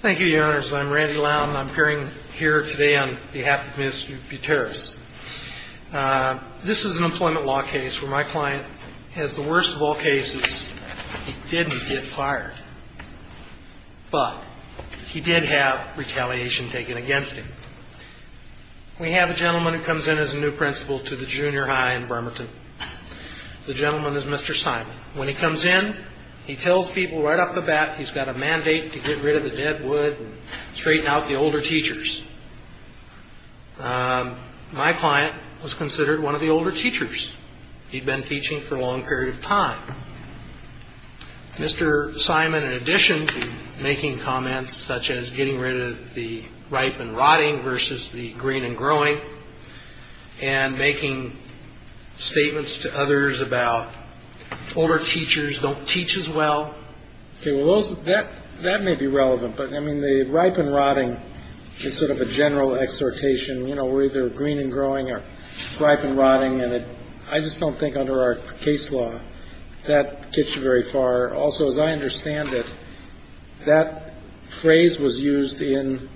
Thank you, Your Honors. I'm Randy Lowne, and I'm appearing here today on behalf of Ms. Buteris. This is an employment law case where my client has the worst of all cases. He didn't get fired. But he did have retaliation taken against him. We have a gentleman who comes in as a new principal to the junior high in Bremerton. The gentleman is Mr. Simon. When he comes in, he tells people right off the bat he's got a mandate to get rid of the dead wood and straighten out the older teachers. My client was considered one of the older teachers. He'd been teaching for a long period of time. Mr. Simon, in addition to making comments such as getting rid of the ripe and rotting versus the green and growing and making statements to others about older teachers don't teach as well. OK, well, that that may be relevant, but I mean, the ripe and rotting is sort of a general exhortation. You know, we're either green and growing or ripe and rotting. And I just don't think under our case law that gets you very far. Also, as I understand it, that phrase was used in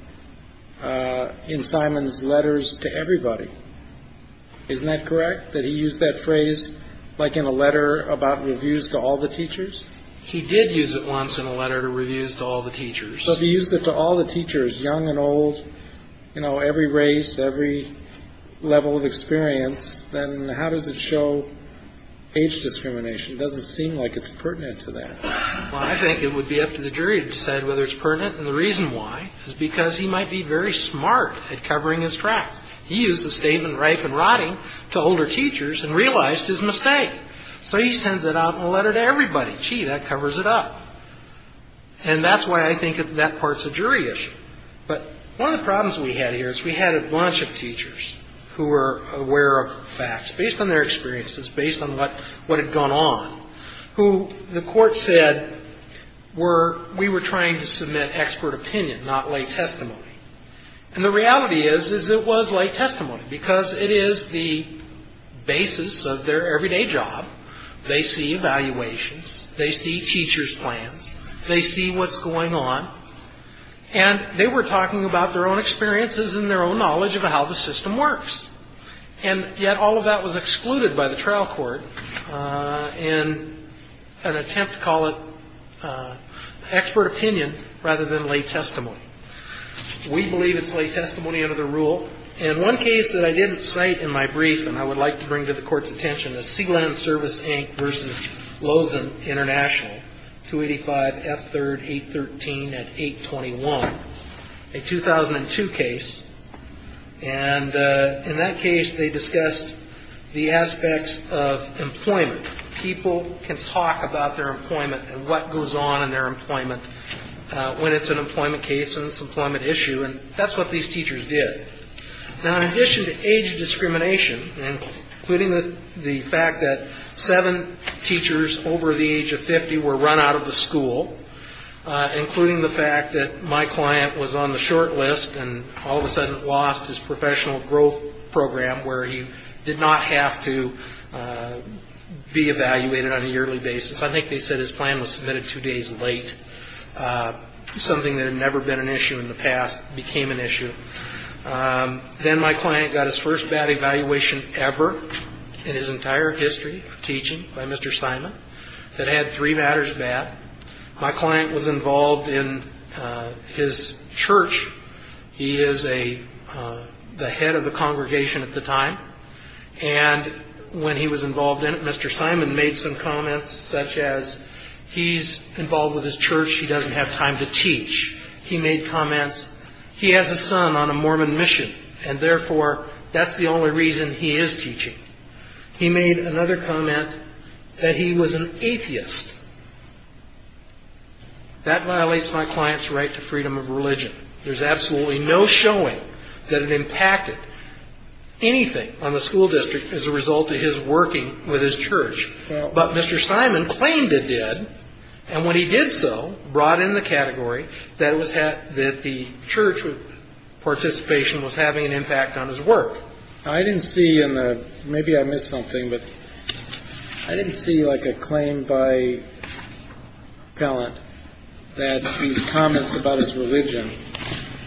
in Simon's letters to everybody. Isn't that correct, that he used that phrase like in a letter about reviews to all the teachers? He did use it once in a letter to reviews to all the teachers. So he used it to all the teachers, young and old, you know, every race, every level of experience. Then how does it show age discrimination? It doesn't seem like it's pertinent to that. Well, I think it would be up to the jury to decide whether it's pertinent. And the reason why is because he might be very smart at covering his tracks. He used the statement ripe and rotting to older teachers and realized his mistake. So he sends it out in a letter to everybody. Gee, that covers it up. And that's why I think that part's a jury issue. But one of the problems we had here is we had a bunch of teachers who were aware of facts based on their experiences, based on what had gone on, who the court said were we were trying to submit expert opinion, not lay testimony. And the reality is, is it was lay testimony because it is the basis of their everyday job. They see evaluations. They see teachers' plans. They see what's going on. And they were talking about their own experiences and their own knowledge of how the system works. And yet all of that was excluded by the trial court in an attempt to call it expert opinion rather than lay testimony. We believe it's lay testimony under the rule. So in one case that I didn't cite in my brief and I would like to bring to the court's attention, the Sealand Service Inc. versus Lozen International, 285 F. 3rd, 813 and 821, a 2002 case. And in that case, they discussed the aspects of employment. People can talk about their employment and what goes on in their employment when it's an employment case and it's an employment issue. And that's what these teachers did. Now, in addition to age discrimination, including the fact that seven teachers over the age of 50 were run out of the school, including the fact that my client was on the short list and all of a sudden lost his professional growth program where he did not have to be evaluated on a yearly basis. I think they said his plan was submitted two days late. Something that had never been an issue in the past became an issue. Then my client got his first bad evaluation ever in his entire history of teaching by Mr. Simon. It had three matters of that. My client was involved in his church. He is the head of the congregation at the time. And when he was involved in it, Mr. Simon made some comments such as he's involved with his church. He doesn't have time to teach. He made comments. He has a son on a Mormon mission, and therefore, that's the only reason he is teaching. He made another comment that he was an atheist. There's absolutely no showing that it impacted anything on the school district as a result of his working with his church. But Mr. Simon claimed it did. And when he did so, brought in the category that the church participation was having an impact on his work. I didn't see in the maybe I missed something, but I didn't see like a claim by pellet that these comments about his religion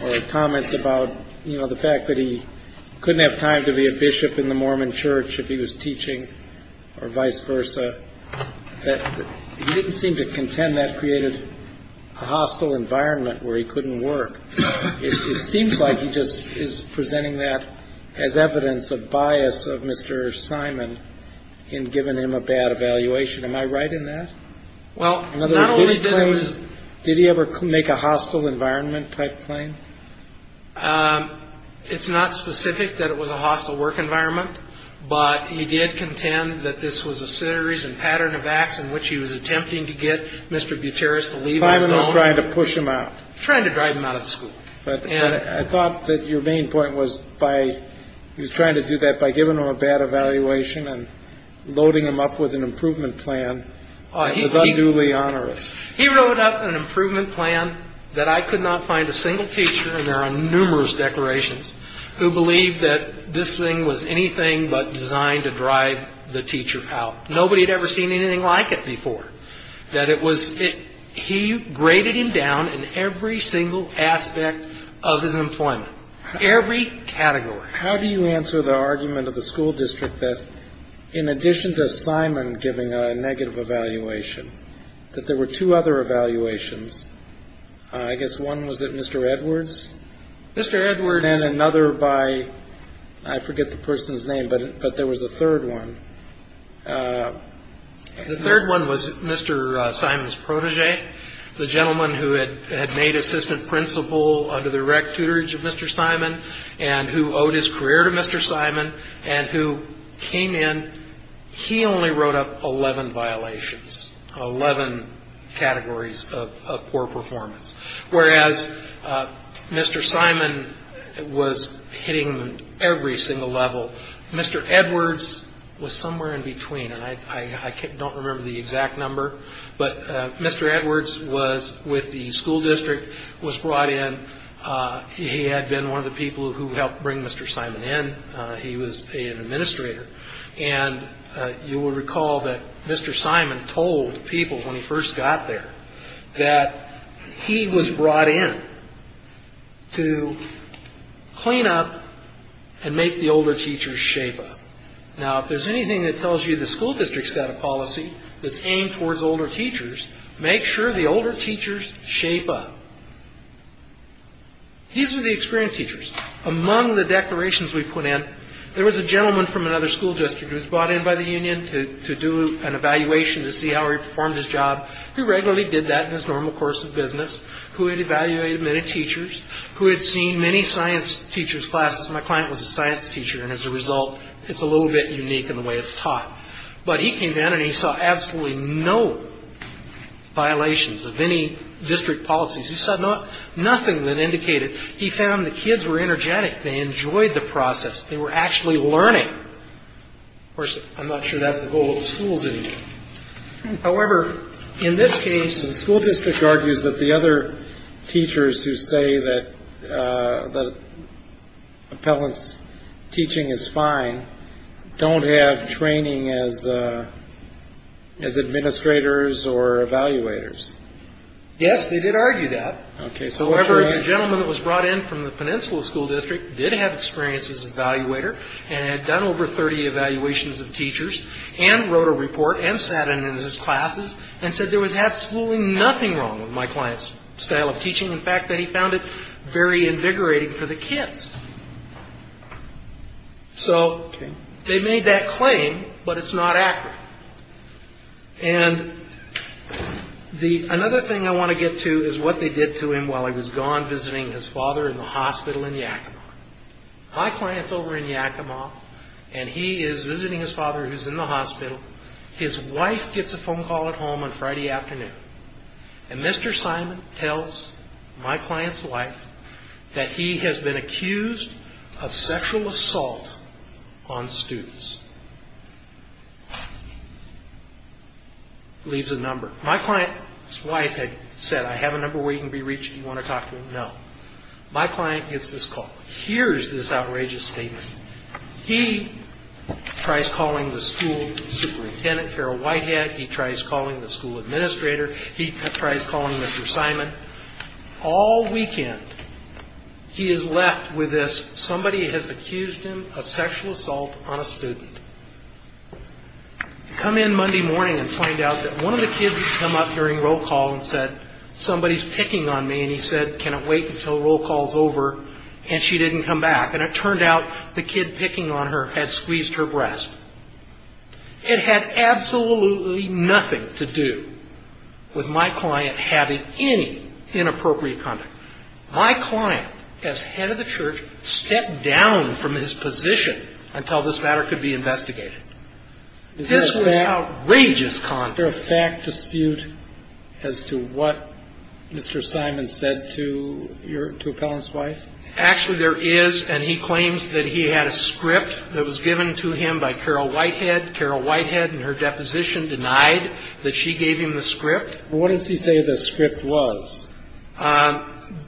or comments about, you know, the fact that he couldn't have time to be a bishop in the Mormon church if he was teaching or vice versa. He didn't seem to contend that created a hostile environment where he couldn't work. It seems like he just is presenting that as evidence of bias of Mr. Simon in giving him a bad evaluation. Am I right in that? Well, not only did it was. Did he ever make a hostile environment type claim? It's not specific that it was a hostile work environment, but he did contend that this was a series and pattern of acts in which he was attempting to get Mr. Gutierrez to leave trying to push him out, trying to drive him out of school. But I thought that your main point was by he was trying to do that by giving him a bad evaluation and loading him up with an improvement plan. I thought newly onerous. He wrote up an improvement plan that I could not find a single teacher. And there are numerous declarations who believe that this thing was anything but designed to drive the teacher out. Nobody had ever seen anything like it before, that it was it. He graded him down in every single aspect of his employment. Every category. How do you answer the argument of the school district that in addition to Simon giving a negative evaluation, that there were two other evaluations? I guess one was that Mr. Edwards, Mr. Edwards, and then another by I forget the person's name, but but there was a third one. The third one was Mr. Simon's protege, the gentleman who had made assistant principal under the rec tutors of Mr. Simon and who owed his career to Mr. Simon and who came in. He only wrote up 11 violations, 11 categories of poor performance. Whereas Mr. Simon was hitting every single level. Mr. Edwards was somewhere in between. And I don't remember the exact number, but Mr. Edwards was with the school district, was brought in. He had been one of the people who helped bring Mr. Simon in. He was an administrator. And you will recall that Mr. Simon told people when he first got there that he was brought in to clean up and make the older teachers shape up. Now, if there's anything that tells you the school district's got a policy that's aimed towards older teachers, make sure the older teachers shape up. These are the experienced teachers. Among the declarations we put in, there was a gentleman from another school district who was brought in by the union to do an evaluation to see how he performed his job. He regularly did that in his normal course of business, who had evaluated many teachers, who had seen many science teachers classes. My client was a science teacher. And as a result, it's a little bit unique in the way it's taught. But he came in and he saw absolutely no violations of any district policies. He saw nothing that indicated he found the kids were energetic. They enjoyed the process. They were actually learning. Of course, I'm not sure that's the goal of schools anymore. However, in this case, the school district argues that the other teachers who say that the appellant's teaching is fine don't have training as as administrators or evaluators. Yes, they did argue that case. However, the gentleman that was brought in from the peninsula school district did have experience as evaluator and had done over 30 evaluations of teachers and wrote a report and sat in his classes and said there was absolutely nothing wrong with my client's style of teaching. In fact, that he found it very invigorating for the kids. So they made that claim, but it's not accurate. And the another thing I want to get to is what they did to him while he was gone visiting his father in the hospital in Yakima. My client's over in Yakima and he is visiting his father who's in the hospital. His wife gets a phone call at home on Friday afternoon. And Mr. Simon tells my client's wife that he has been accused of sexual assault on students. Leaves a number. My client's wife had said, I have a number where you can be reached. You want to talk to him? No. My client gets this call. Here's this outrageous statement. He tries calling the school superintendent, Carol Whitehead. He tries calling the school administrator. He tries calling Mr. Simon. All weekend he is left with this. Somebody has accused him of sexual assault on a student. Come in Monday morning and find out that one of the kids had come up during roll call and said, somebody's picking on me. And he said, can it wait until roll call's over? And she didn't come back. And it turned out the kid picking on her had squeezed her breast. It had absolutely nothing to do with my client having any inappropriate conduct. My client, as head of the church, stepped down from his position until this matter could be investigated. This was outrageous conduct. Is there a fact dispute as to what Mr. Simon said to your, to a felon's wife? Actually, there is. And he claims that he had a script that was given to him by Carol Whitehead. Carol Whitehead, in her deposition, denied that she gave him the script. What does he say the script was?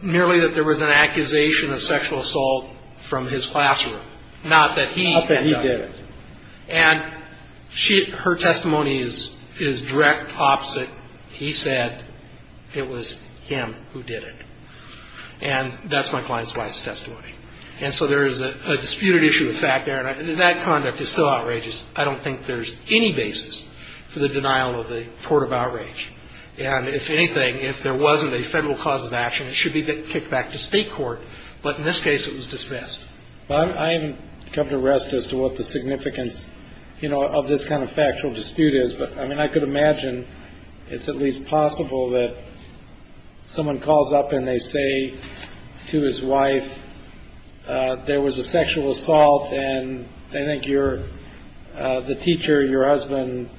Merely that there was an accusation of sexual assault from his classroom, not that he had done it. Not that he did it. And her testimony is direct opposite. He said it was him who did it. And that's my client's wife's testimony. And so there is a disputed issue of fact there. And that conduct is so outrageous, I don't think there's any basis for the denial of the court of outrage. And if anything, if there wasn't a federal cause of action, it should be kicked back to state court. But in this case, it was dismissed. I haven't come to rest as to what the significance of this kind of factual dispute is. But I mean, I could imagine it's at least possible that someone calls up and they say to his wife, there was a sexual assault and they think you're the teacher, your husband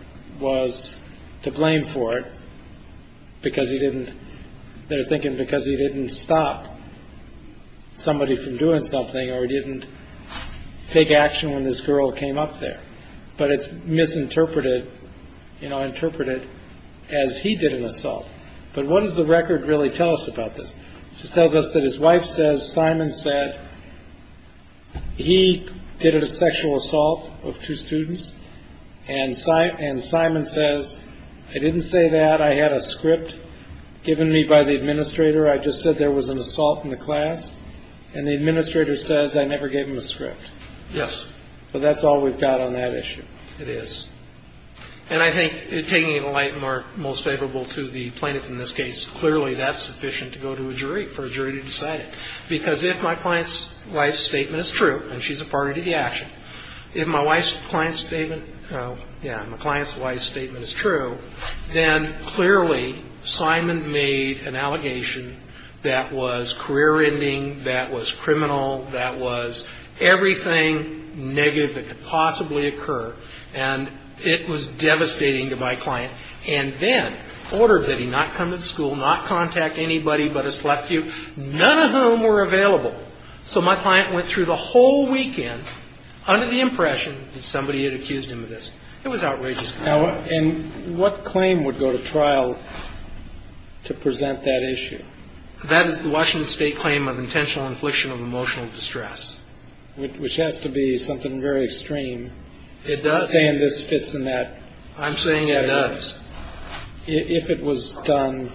was to blame for it. Because he didn't. They're thinking because he didn't stop somebody from doing something or didn't take action when this girl came up there. But it's misinterpreted, you know, interpreted as he did an assault. But what does the record really tell us about this? She tells us that his wife says Simon said he did a sexual assault of two students and sight. And Simon says, I didn't say that. I had a script given me by the administrator. I just said there was an assault in the class. And the administrator says I never gave him the script. Yes. So that's all we've got on that issue. It is. And I think, taking it to the light and most favorable to the plaintiff in this case, clearly that's sufficient to go to a jury, for a jury to decide it. Because if my client's wife's statement is true, and she's a party to the action, if my wife's client's statement, yeah, my client's wife's statement is true, then clearly Simon made an allegation that was career-ending, that was criminal, that was everything negative that could possibly occur. And it was devastating to my client. And then ordered that he not come to the school, not contact anybody but a select few, none of whom were available. So my client went through the whole weekend under the impression that somebody had accused him of this. It was outrageous. And what claim would go to trial to present that issue? That is the Washington State claim of intentional infliction of emotional distress. Which has to be something very extreme. It does. I'm saying this fits in that. I'm saying it does. If it was done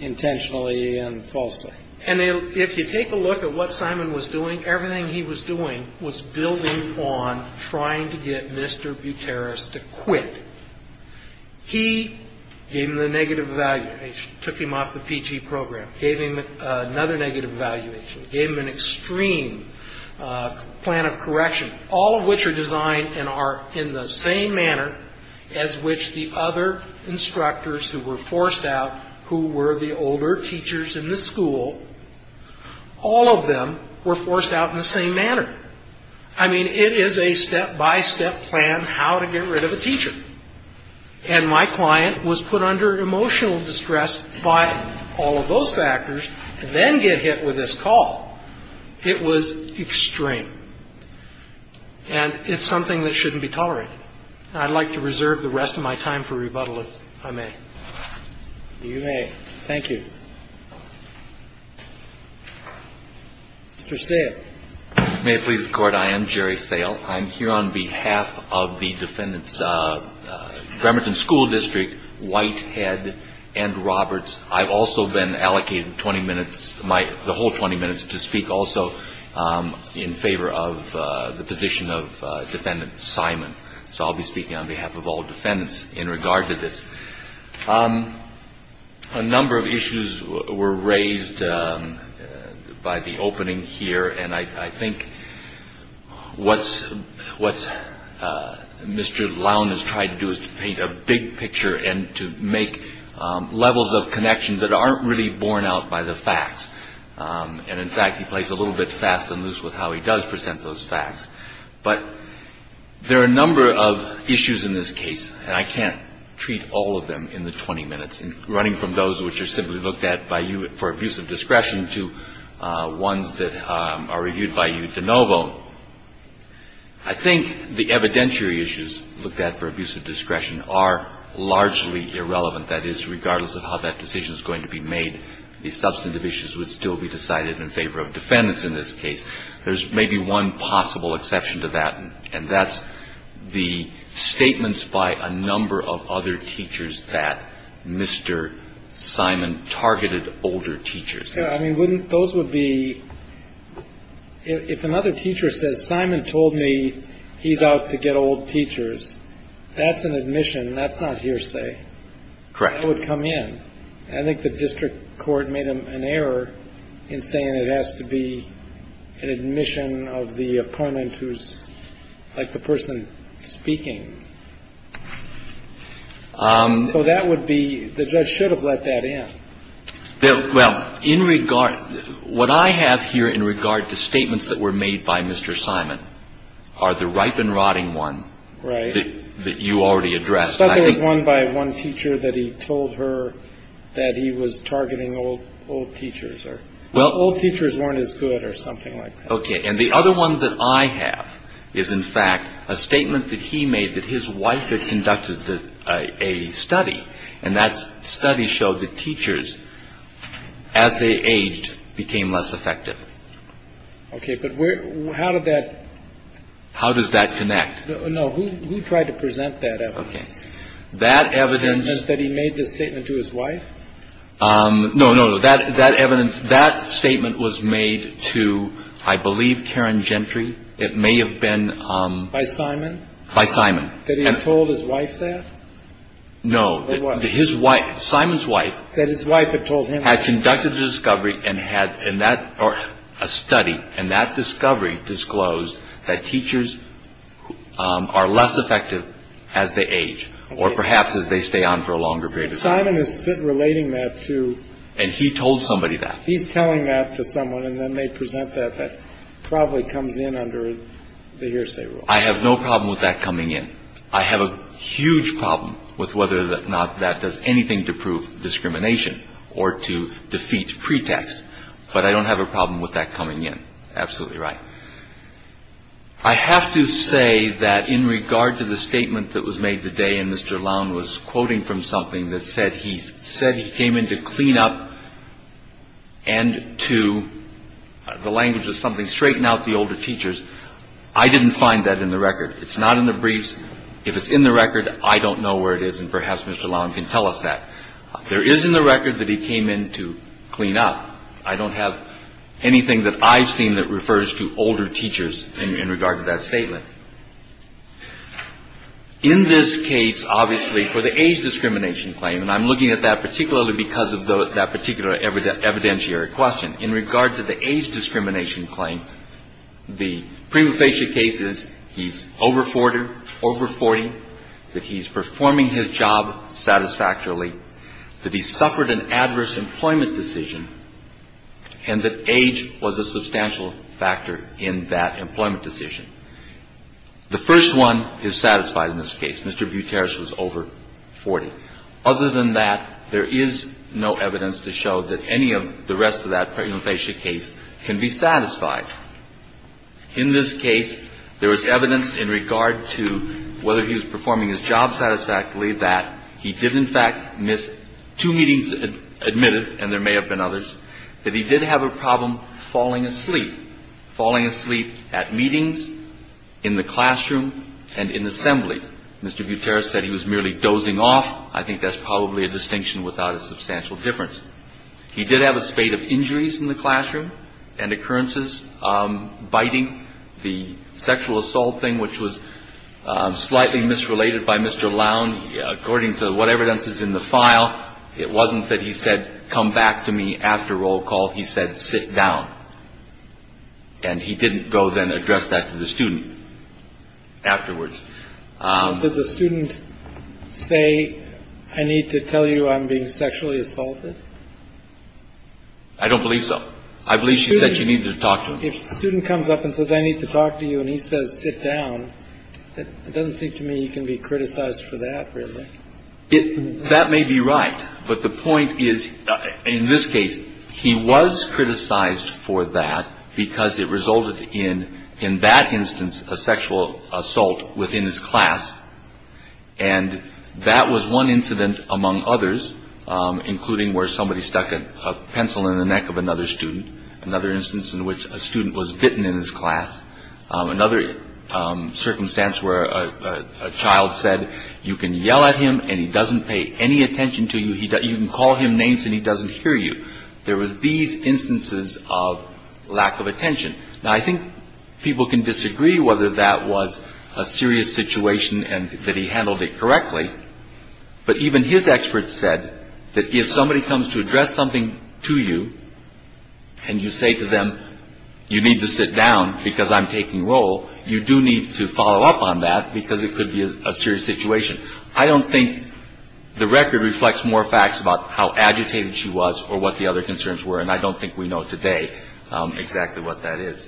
intentionally and falsely. And if you take a look at what Simon was doing, everything he was doing was building on trying to get Mr. Buteris to quit. He gave him the negative evaluation. Took him off the PG program. Gave him another negative evaluation. Gave him an extreme plan of correction. All of which are designed and are in the same manner as which the other instructors who were forced out, who were the older teachers in the school, all of them were forced out in the same manner. I mean, it is a step-by-step plan how to get rid of a teacher. And my client was put under emotional distress by all of those factors and then get hit with this call. It was extreme. And it's something that shouldn't be tolerated. And I'd like to reserve the rest of my time for rebuttal, if I may. You may. Thank you. Mr. Sale. May it please the Court. I am Jerry Sale. I'm here on behalf of the defendants, Bremerton School District, Whitehead, and Roberts. I've also been allocated 20 minutes, the whole 20 minutes, to speak also in favor of the position of Defendant Simon. So I'll be speaking on behalf of all defendants in regard to this. A number of issues were raised by the opening here. And I think what Mr. Lown has tried to do is to paint a big picture and to make levels of connection that aren't really borne out by the facts. And, in fact, he plays a little bit fast and loose with how he does present those facts. But there are a number of issues in this case, and I can't treat all of them in the 20 minutes, running from those which are simply looked at by you for abuse of discretion to ones that are reviewed by you de novo. I think the evidentiary issues looked at for abuse of discretion are largely irrelevant. That is, regardless of how that decision is going to be made, the substantive issues would still be decided in favor of defendants in this case. There's maybe one possible exception to that, and that's the statements by a number of other teachers that Mr. Simon targeted older teachers. I mean, wouldn't those would be if another teacher says Simon told me he's out to get old teachers. That's an admission. That's not hearsay. Correct. That would come in. I think the district court made an error in saying it has to be an admission of the opponent who's like the person speaking. So that would be the judge should have let that in. Well, in regard what I have here in regard to statements that were made by Mr. Simon are the ripe and rotting one. Right. That you already addressed. There was one by one teacher that he told her that he was targeting old old teachers or well, old teachers weren't as good or something like that. And the other one that I have is, in fact, a statement that he made that his wife had conducted a study and that study showed that teachers as they aged became less effective. OK. But how did that. How does that connect. No. Who tried to present that evidence that evidence that he made this statement to his wife. No, no, no. That that evidence. That statement was made to, I believe, Karen Gentry. It may have been by Simon. By Simon. That he had told his wife that. No, his wife, Simon's wife, that his wife had told him had conducted the discovery and had in that or a study. And that discovery disclosed that teachers are less effective as they age or perhaps as they stay on for a longer period of time. And relating that to. And he told somebody that he's telling that to someone and then they present that that probably comes in under the hearsay. I have no problem with that coming in. I have a huge problem with whether or not that does anything to prove discrimination or to defeat pretext. But I don't have a problem with that coming in. Absolutely right. I have to say that in regard to the statement that was made today and Mr. Lown was quoting from something that said he said he came in to clean up. And to the language of something straighten out the older teachers. I didn't find that in the record. It's not in the briefs. If it's in the record, I don't know where it is. And perhaps Mr. Lown can tell us that there is in the record that he came in to clean up. I don't have anything that I've seen that refers to older teachers in regard to that statement. In this case, obviously, for the age discrimination claim, and I'm looking at that particularly because of that particular evidentiary question, in regard to the age discrimination claim, the prima facie case is he's over 40, over 40, that he's performing his job satisfactorily, that he suffered an adverse employment decision and that age was a substantial factor in that employment decision. The first one is satisfied in this case. Mr. Buteris was over 40. Other than that, there is no evidence to show that any of the rest of that prima facie case can be satisfied. In this case, there was evidence in regard to whether he was performing his job satisfactorily, that he did in fact miss two meetings admitted, and there may have been others, that he did have a problem falling asleep, falling asleep at meetings, in the classroom, and in assemblies. Mr. Buteris said he was merely dozing off. I think that's probably a distinction without a substantial difference. He did have a spate of injuries in the classroom and occurrences, biting, the sexual assault thing, which was slightly misrelated by Mr. Lown. According to what evidence is in the file, it wasn't that he said, come back to me after roll call. He said, sit down. And he didn't go then address that to the student afterwards. Did the student say, I need to tell you, I'm being sexually assaulted. I don't believe so. I believe she said she needed to talk to a student comes up and says, I need to talk to you. And he says, sit down. It doesn't seem to me he can be criticized for that. If that may be right. But the point is, in this case, he was criticized for that because it resulted in in that instance, a sexual assault within his class. And that was one incident among others, including where somebody stuck a pencil in the neck of another student. Another instance in which a student was bitten in his class. Another circumstance where a child said you can yell at him and he doesn't pay any attention to you. You can call him names and he doesn't hear you. There was these instances of lack of attention. Now, I think people can disagree whether that was a serious situation and that he handled it correctly. But even his experts said that if somebody comes to address something to you and you say to them, you need to sit down because I'm taking role. You do need to follow up on that because it could be a serious situation. I don't think the record reflects more facts about how agitated she was or what the other concerns were. And I don't think we know today exactly what that is.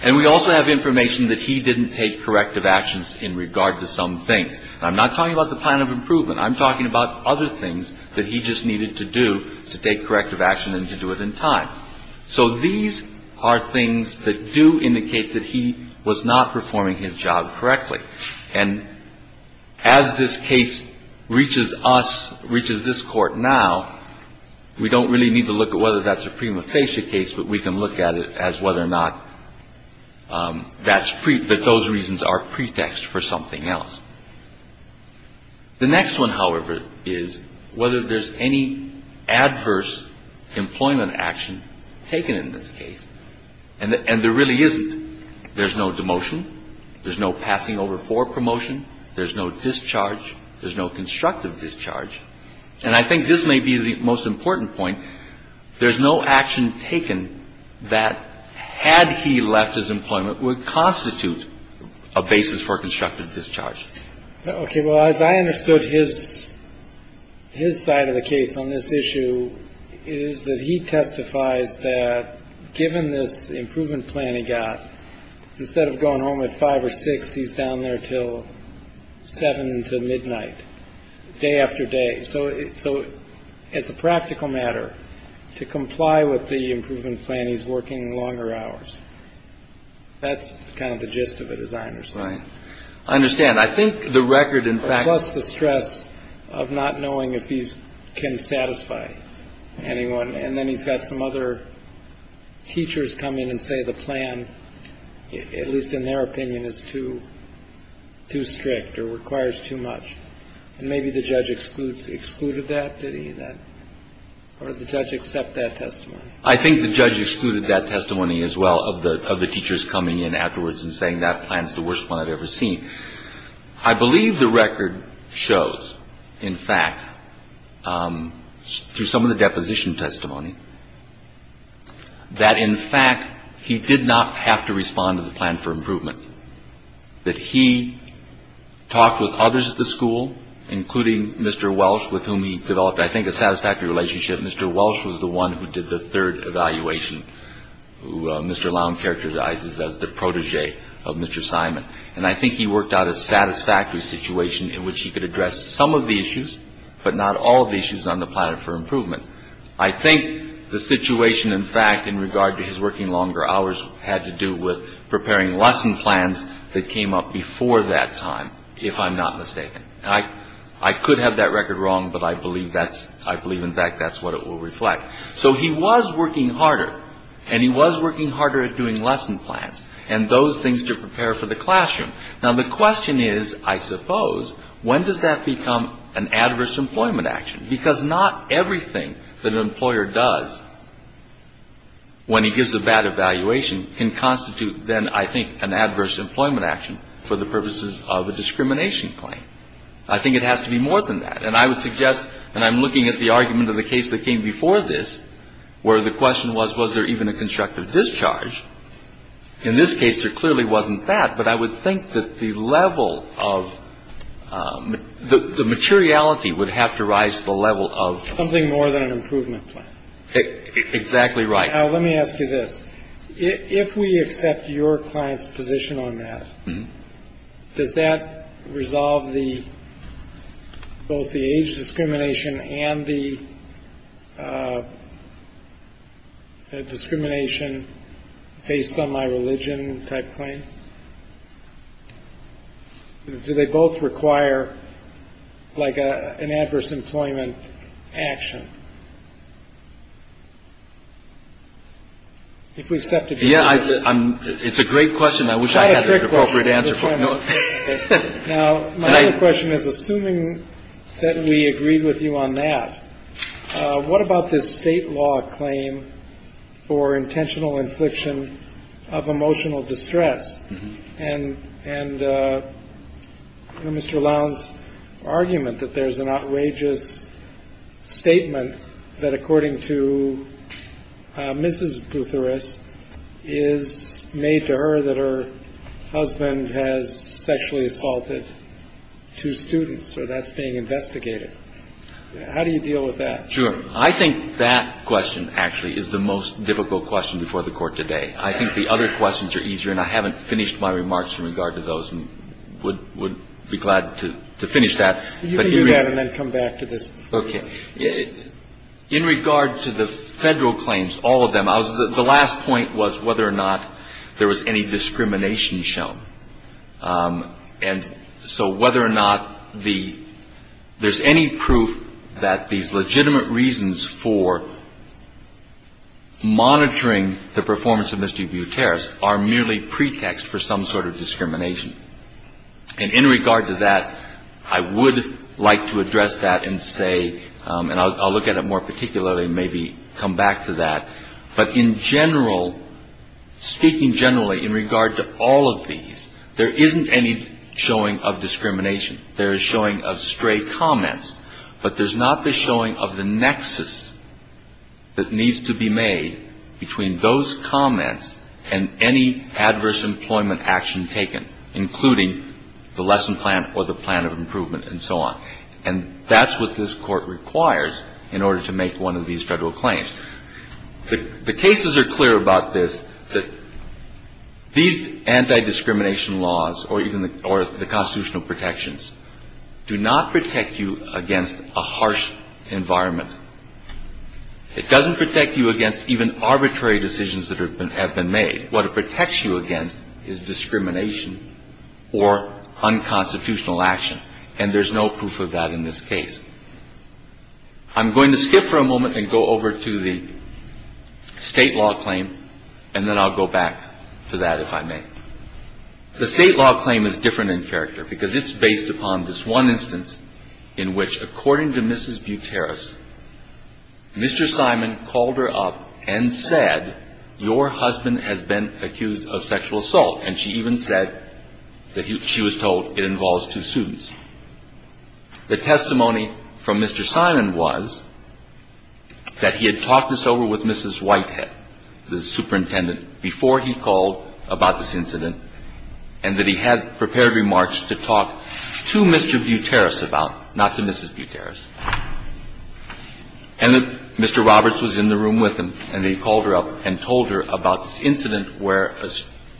And we also have information that he didn't take corrective actions in regard to some things. I'm not talking about the plan of improvement. I'm talking about other things that he just needed to do to take corrective action and to do it in time. So these are things that do indicate that he was not performing his job correctly. And as this case reaches us, reaches this court now, we don't really need to look at whether that's a prima facie case, but we can look at it as whether or not that's that those reasons are pretext for something else. The next one, however, is whether there's any adverse employment action taken in this case. And there really isn't. There's no demotion. There's no passing over for promotion. There's no discharge. There's no constructive discharge. And I think this may be the most important point. There's no action taken that, had he left his employment, would constitute a basis for constructive discharge. Okay. Well, as I understood his side of the case on this issue, it is that he testifies that given this improvement plan he got, instead of going home at 5 or 6, he's down there till 7 to midnight, day after day. So it's a practical matter to comply with the improvement plan. He's working longer hours. That's kind of the gist of it, as I understand. I understand. I think the record, in fact, was the stress of not knowing if he can satisfy anyone. And then he's got some other teachers come in and say the plan, at least in their opinion, is too, too strict or requires too much. And maybe the judge excludes, excluded that, did he? Or did the judge accept that testimony? I think the judge excluded that testimony as well, of the teachers coming in afterwards and saying that plan's the worst one I've ever seen. I believe the record shows, in fact, through some of the deposition testimony, that, in fact, he did not have to respond to the plan for improvement. That he talked with others at the school, including Mr. Welsh, with whom he developed, I think, a satisfactory relationship. Mr. Welsh was the one who did the third evaluation, who Mr. Long characterizes as the protege of Mr. Simon. And I think he worked out a satisfactory situation in which he could address some of the issues, but not all of the issues on the plan for improvement. I think the situation, in fact, in regard to his working longer hours had to do with preparing lesson plans that came up before that time, if I'm not mistaken. I could have that record wrong, but I believe, in fact, that's what it will reflect. So he was working harder, and he was working harder at doing lesson plans and those things to prepare for the classroom. Now, the question is, I suppose, when does that become an adverse employment action? Because not everything that an employer does when he gives a bad evaluation can constitute, then, I think, an adverse employment action for the purposes of a discrimination claim. I think it has to be more than that. And I would suggest, and I'm looking at the argument of the case that came before this, where the question was, was there even a constructive discharge? In this case, there clearly wasn't that. But I would think that the level of the materiality would have to rise to the level of. Something more than an improvement plan. Exactly right. Let me ask you this. If we accept your client's position on that, does that resolve the both the age discrimination and the discrimination based on my religion type claim? Do they both require like an adverse employment action? If we accept. Yeah, I'm. It's a great question. I wish I had an appropriate answer. Now, my question is, assuming that we agreed with you on that. What about this state law claim for intentional infliction of emotional distress? And Mr. Lowndes' argument that there's an outrageous statement that, according to Mrs. Boutheris, is made to her that her husband has sexually assaulted two students, or that's being investigated. How do you deal with that? Sure. I think that question actually is the most difficult question before the Court today. I think the other questions are easier, and I haven't finished my remarks in regard to those and would be glad to finish that. You can do that and then come back to this. Okay. In regard to the Federal claims, all of them, the last point was whether or not there was any discrimination shown. And so whether or not there's any proof that these legitimate reasons for monitoring the performance of Mr. Boutheris are merely pretext for some sort of discrimination. And in regard to that, I would like to address that and say, and I'll look at it more particularly, maybe come back to that. But in general, speaking generally in regard to all of these, there isn't any showing of discrimination. There is showing of stray comments. But there's not the showing of the nexus that needs to be made between those comments and any adverse employment action taken, including the lesson plan or the plan of improvement and so on. And that's what this Court requires in order to make one of these Federal claims. The cases are clear about this, that these anti-discrimination laws or even the constitutional protections do not protect you against a harsh environment. It doesn't protect you against even arbitrary decisions that have been made. What it protects you against is discrimination or unconstitutional action. And there's no proof of that in this case. I'm going to skip for a moment and go over to the State law claim, and then I'll go back to that if I may. The State law claim is different in character because it's based upon this one instance in which, according to Mrs. Boutheris, Mr. Simon called her up and said, your husband has been accused of sexual assault. And she even said that she was told it involves two suits. The testimony from Mr. Simon was that he had talked this over with Mrs. Whitehead, the superintendent, before he called about this incident, and that he had prepared remarks to talk to Mr. Boutheris about, not to Mrs. Boutheris. And that Mr. Roberts was in the room with him, and he called her up and told her about this incident where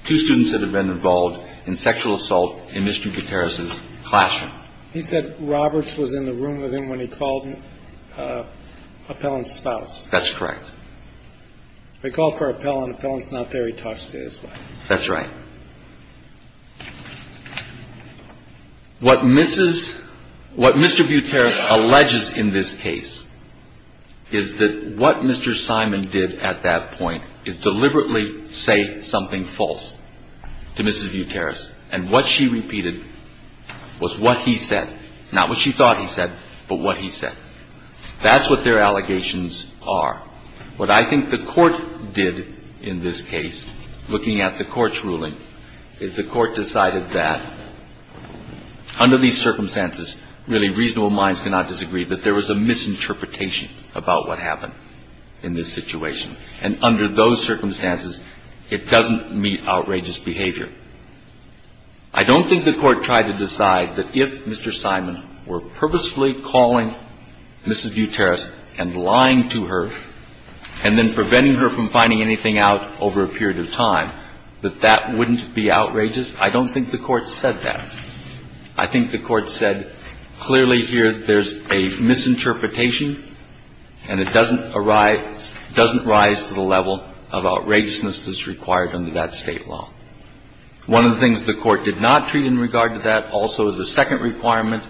two students had been involved in sexual assault in Mr. Boutheris's classroom. He said Roberts was in the room with him when he called Appellant's spouse. That's correct. He called for Appellant. Appellant's not there. He talks to his wife. That's right. What Mrs. – what Mr. Boutheris alleges in this case is that what Mr. Simon did at that point is deliberately say something false. To Mrs. Boutheris. And what she repeated was what he said. Not what she thought he said, but what he said. That's what their allegations are. What I think the court did in this case, looking at the court's ruling, is the court decided that under these circumstances, really reasonable minds cannot disagree, that there was a misinterpretation about what happened in this situation. And under those circumstances, it doesn't meet outrageous behavior. I don't think the court tried to decide that if Mr. Simon were purposefully calling Mrs. Boutheris and lying to her and then preventing her from finding anything out over a period of time, that that wouldn't be outrageous. I don't think the court said that. I think the court said clearly here there's a misinterpretation and it doesn't arise – doesn't rise to the level of outrageousness that's required under that State law. One of the things the court did not treat in regard to that also is the second requirement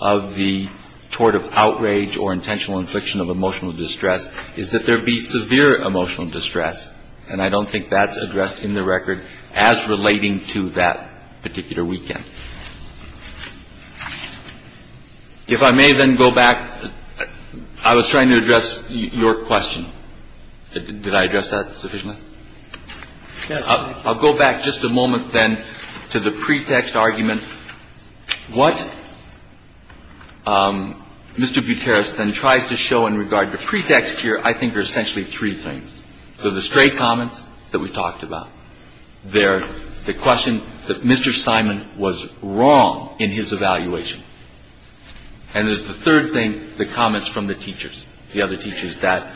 of the tort of outrage or intentional infliction of emotional distress is that there be severe emotional distress. And I don't think that's addressed in the record as relating to that particular weekend. If I may then go back. I was trying to address your question. Did I address that sufficiently? I'll go back just a moment then to the pretext argument. What Mr. Boutheris then tries to show in regard to pretext here I think are essentially three things. There are the stray comments that we talked about. There's the question that Mr. Simon was wrong in his evaluation. And there's the third thing, the comments from the teachers, the other teachers, that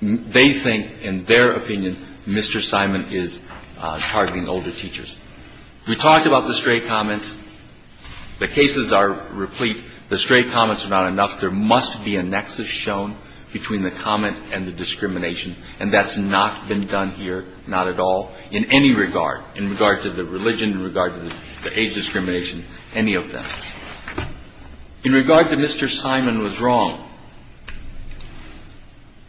they think in their opinion Mr. Simon is targeting older teachers. We talked about the stray comments. The cases are replete. The stray comments are not enough. There must be a nexus shown between the comment and the discrimination. And that's not been done here, not at all, in any regard, in regard to the religion, in regard to the age discrimination, any of them. In regard to Mr. Simon was wrong,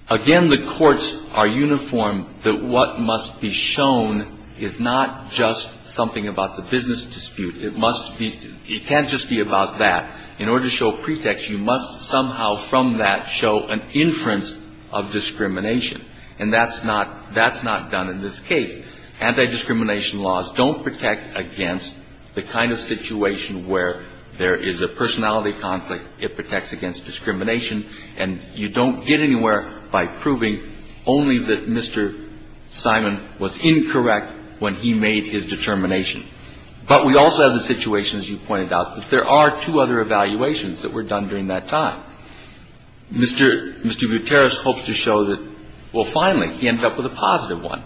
again, the courts are uniform that what must be shown is not just something about the business dispute. It must be – it can't just be about that. In order to show pretext, you must somehow from that show an inference of discrimination. And that's not – that's not done in this case. Anti-discrimination laws don't protect against the kind of situation where there is a personality conflict. It protects against discrimination. And you don't get anywhere by proving only that Mr. Simon was incorrect when he made his determination. But we also have the situation, as you pointed out, that there are two other evaluations that were done during that time. Mr. – Mr. Gutierrez hopes to show that, well, finally, he ended up with a positive one.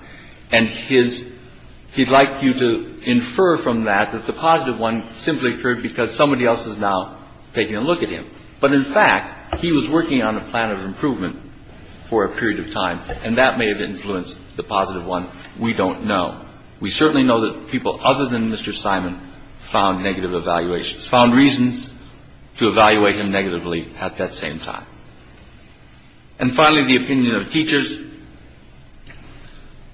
And his – he'd like you to infer from that that the positive one simply occurred because somebody else is now taking a look at him. But in fact, he was working on a plan of improvement for a period of time, and that may have influenced the positive one. We don't know. We certainly know that people other than Mr. Simon found negative evaluations, found reasons to evaluate him negatively at that same time. And finally, the opinion of teachers.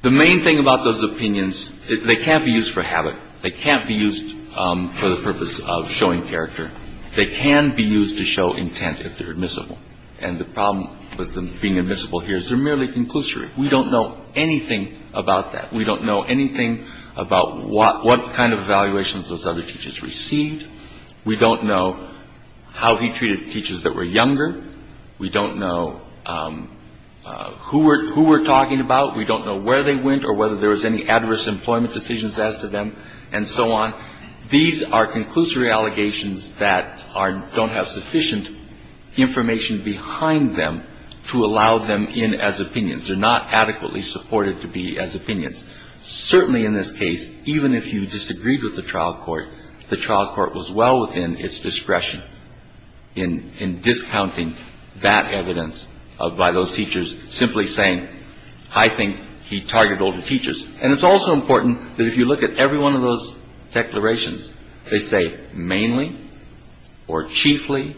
The main thing about those opinions, they can't be used for habit. They can't be used for the purpose of showing character. They can be used to show intent if they're admissible. And the problem with them being admissible here is they're merely conclusory. We don't know anything about that. We don't know anything about what – what kind of evaluations those other teachers received. We don't know how he treated teachers that were younger. We don't know who we're – who we're talking about. We don't know where they went or whether there was any adverse employment decisions as to them and so on. These are conclusory allegations that are – don't have sufficient information behind them to allow them in as opinions. They're not adequately supported to be as opinions. Certainly in this case, even if you disagreed with the trial court, the trial court was well within its discretion in – in discounting that evidence by those teachers simply saying, I think he targeted older teachers. And it's also important that if you look at every one of those declarations, they say mainly or chiefly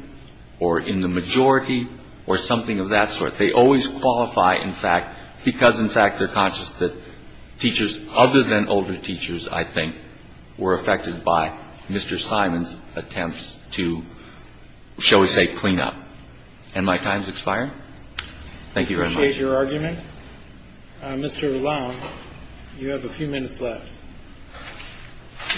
or in the majority or something of that sort. They always qualify, in fact, because, in fact, they're conscious that teachers other than older teachers, I think, were affected by Mr. Simon's attempts to, shall we say, clean up. And my time is expiring. Thank you very much. I appreciate your argument. Mr. Lalonde, you have a few minutes left.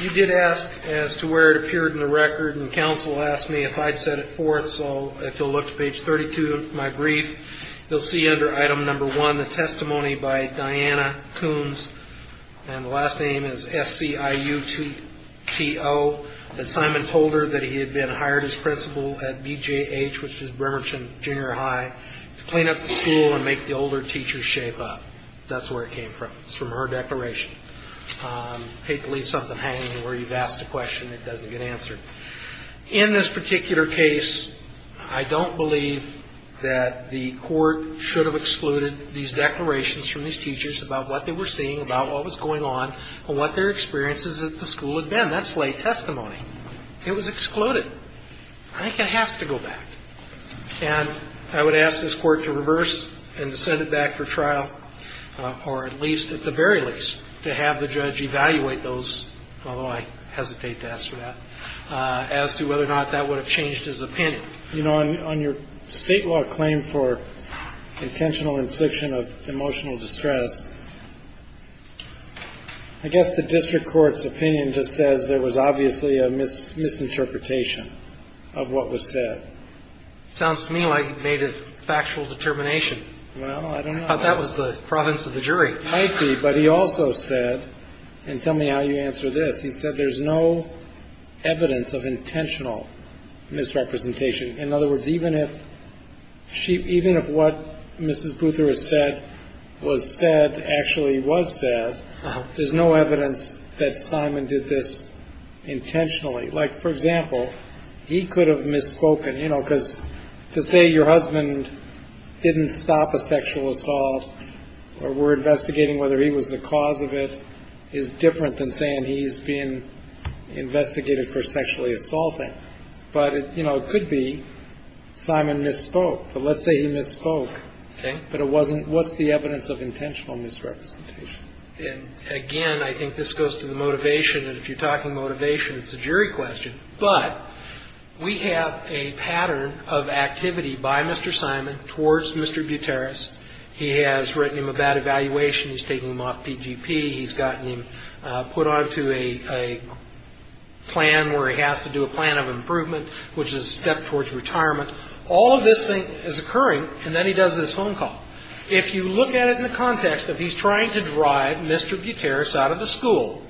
You did ask as to where it appeared in the record, and counsel asked me if I'd set it forth. So if you'll look to page 32 of my brief, you'll see under item number one the testimony by Diana Coombs, and the last name is S-C-I-U-T-T-O that Simon told her that he had been hired as principal at B-J-H, which is Bremerton Junior High, to clean up the school and make the older teachers shape up. That's where it came from. It's from her declaration. I hate to leave something hanging where you've asked a question that doesn't get answered. In this particular case, I don't believe that the court should have excluded these declarations from these teachers about what they were seeing, about what was going on, and what their experiences at the school had been. That's lay testimony. It was excluded. I think it has to go back. And I would ask this court to reverse and to send it back for trial, or at least, at the very least, to have the judge evaluate those, although I hesitate to ask for that, as to whether or not that would have changed his opinion. You know, on your state law claim for intentional infliction of emotional distress, I guess the district court's opinion just says there was obviously a misinterpretation of what was said. Sounds to me like he made a factual determination. Well, I don't know. That was the province of the jury. It might be, but he also said, and tell me how you answer this. He said there's no evidence of intentional misrepresentation. In other words, even if what Mrs. Boother has said was said actually was said, there's no evidence that Simon did this intentionally. Like, for example, he could have misspoken, you know, your husband didn't stop a sexual assault, or we're investigating whether he was the cause of it, is different than saying he's being investigated for sexually assaulting. But, you know, it could be Simon misspoke. But let's say he misspoke. But it wasn't. What's the evidence of intentional misrepresentation? Again, I think this goes to the motivation. And if you're talking motivation, it's a jury question. But we have a pattern of activity by Mr. Simon towards Mr. Gutierrez. He has written him a bad evaluation. He's taking him off PGP. He's gotten him put onto a plan where he has to do a plan of improvement, which is a step towards retirement. All of this thing is occurring. And then he does this phone call. If you look at it in the context that he's trying to drive Mr. Gutierrez out of the school,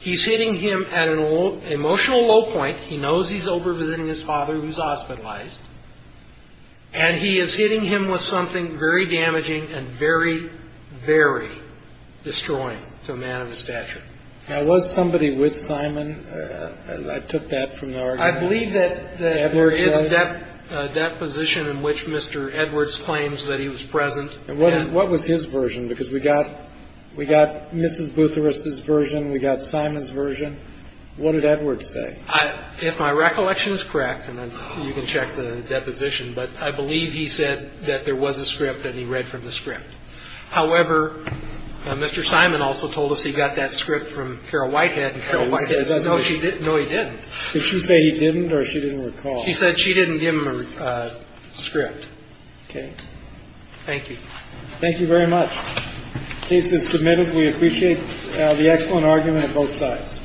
he's hitting him at an emotional low point. He knows he's over-visiting his father who's hospitalized. And he is hitting him with something very damaging and very, very destroying to a man of his stature. Now, was somebody with Simon? I took that from the argument. I believe that there is that position in which Mr. Edwards claims that he was present. And what was his version? Because we got we got Mrs. Boothurst's version. We got Simon's version. What did Edwards say? If my recollection is correct, and then you can check the deposition. But I believe he said that there was a script that he read from the script. However, Mr. Simon also told us he got that script from Carol Whitehead. Carol Whitehead said no, she didn't. No, he didn't. Did she say he didn't or she didn't recall? She said she didn't give him a script. OK. Thank you. Thank you very much. Case is submitted. We appreciate the excellent argument of both sides. All rise.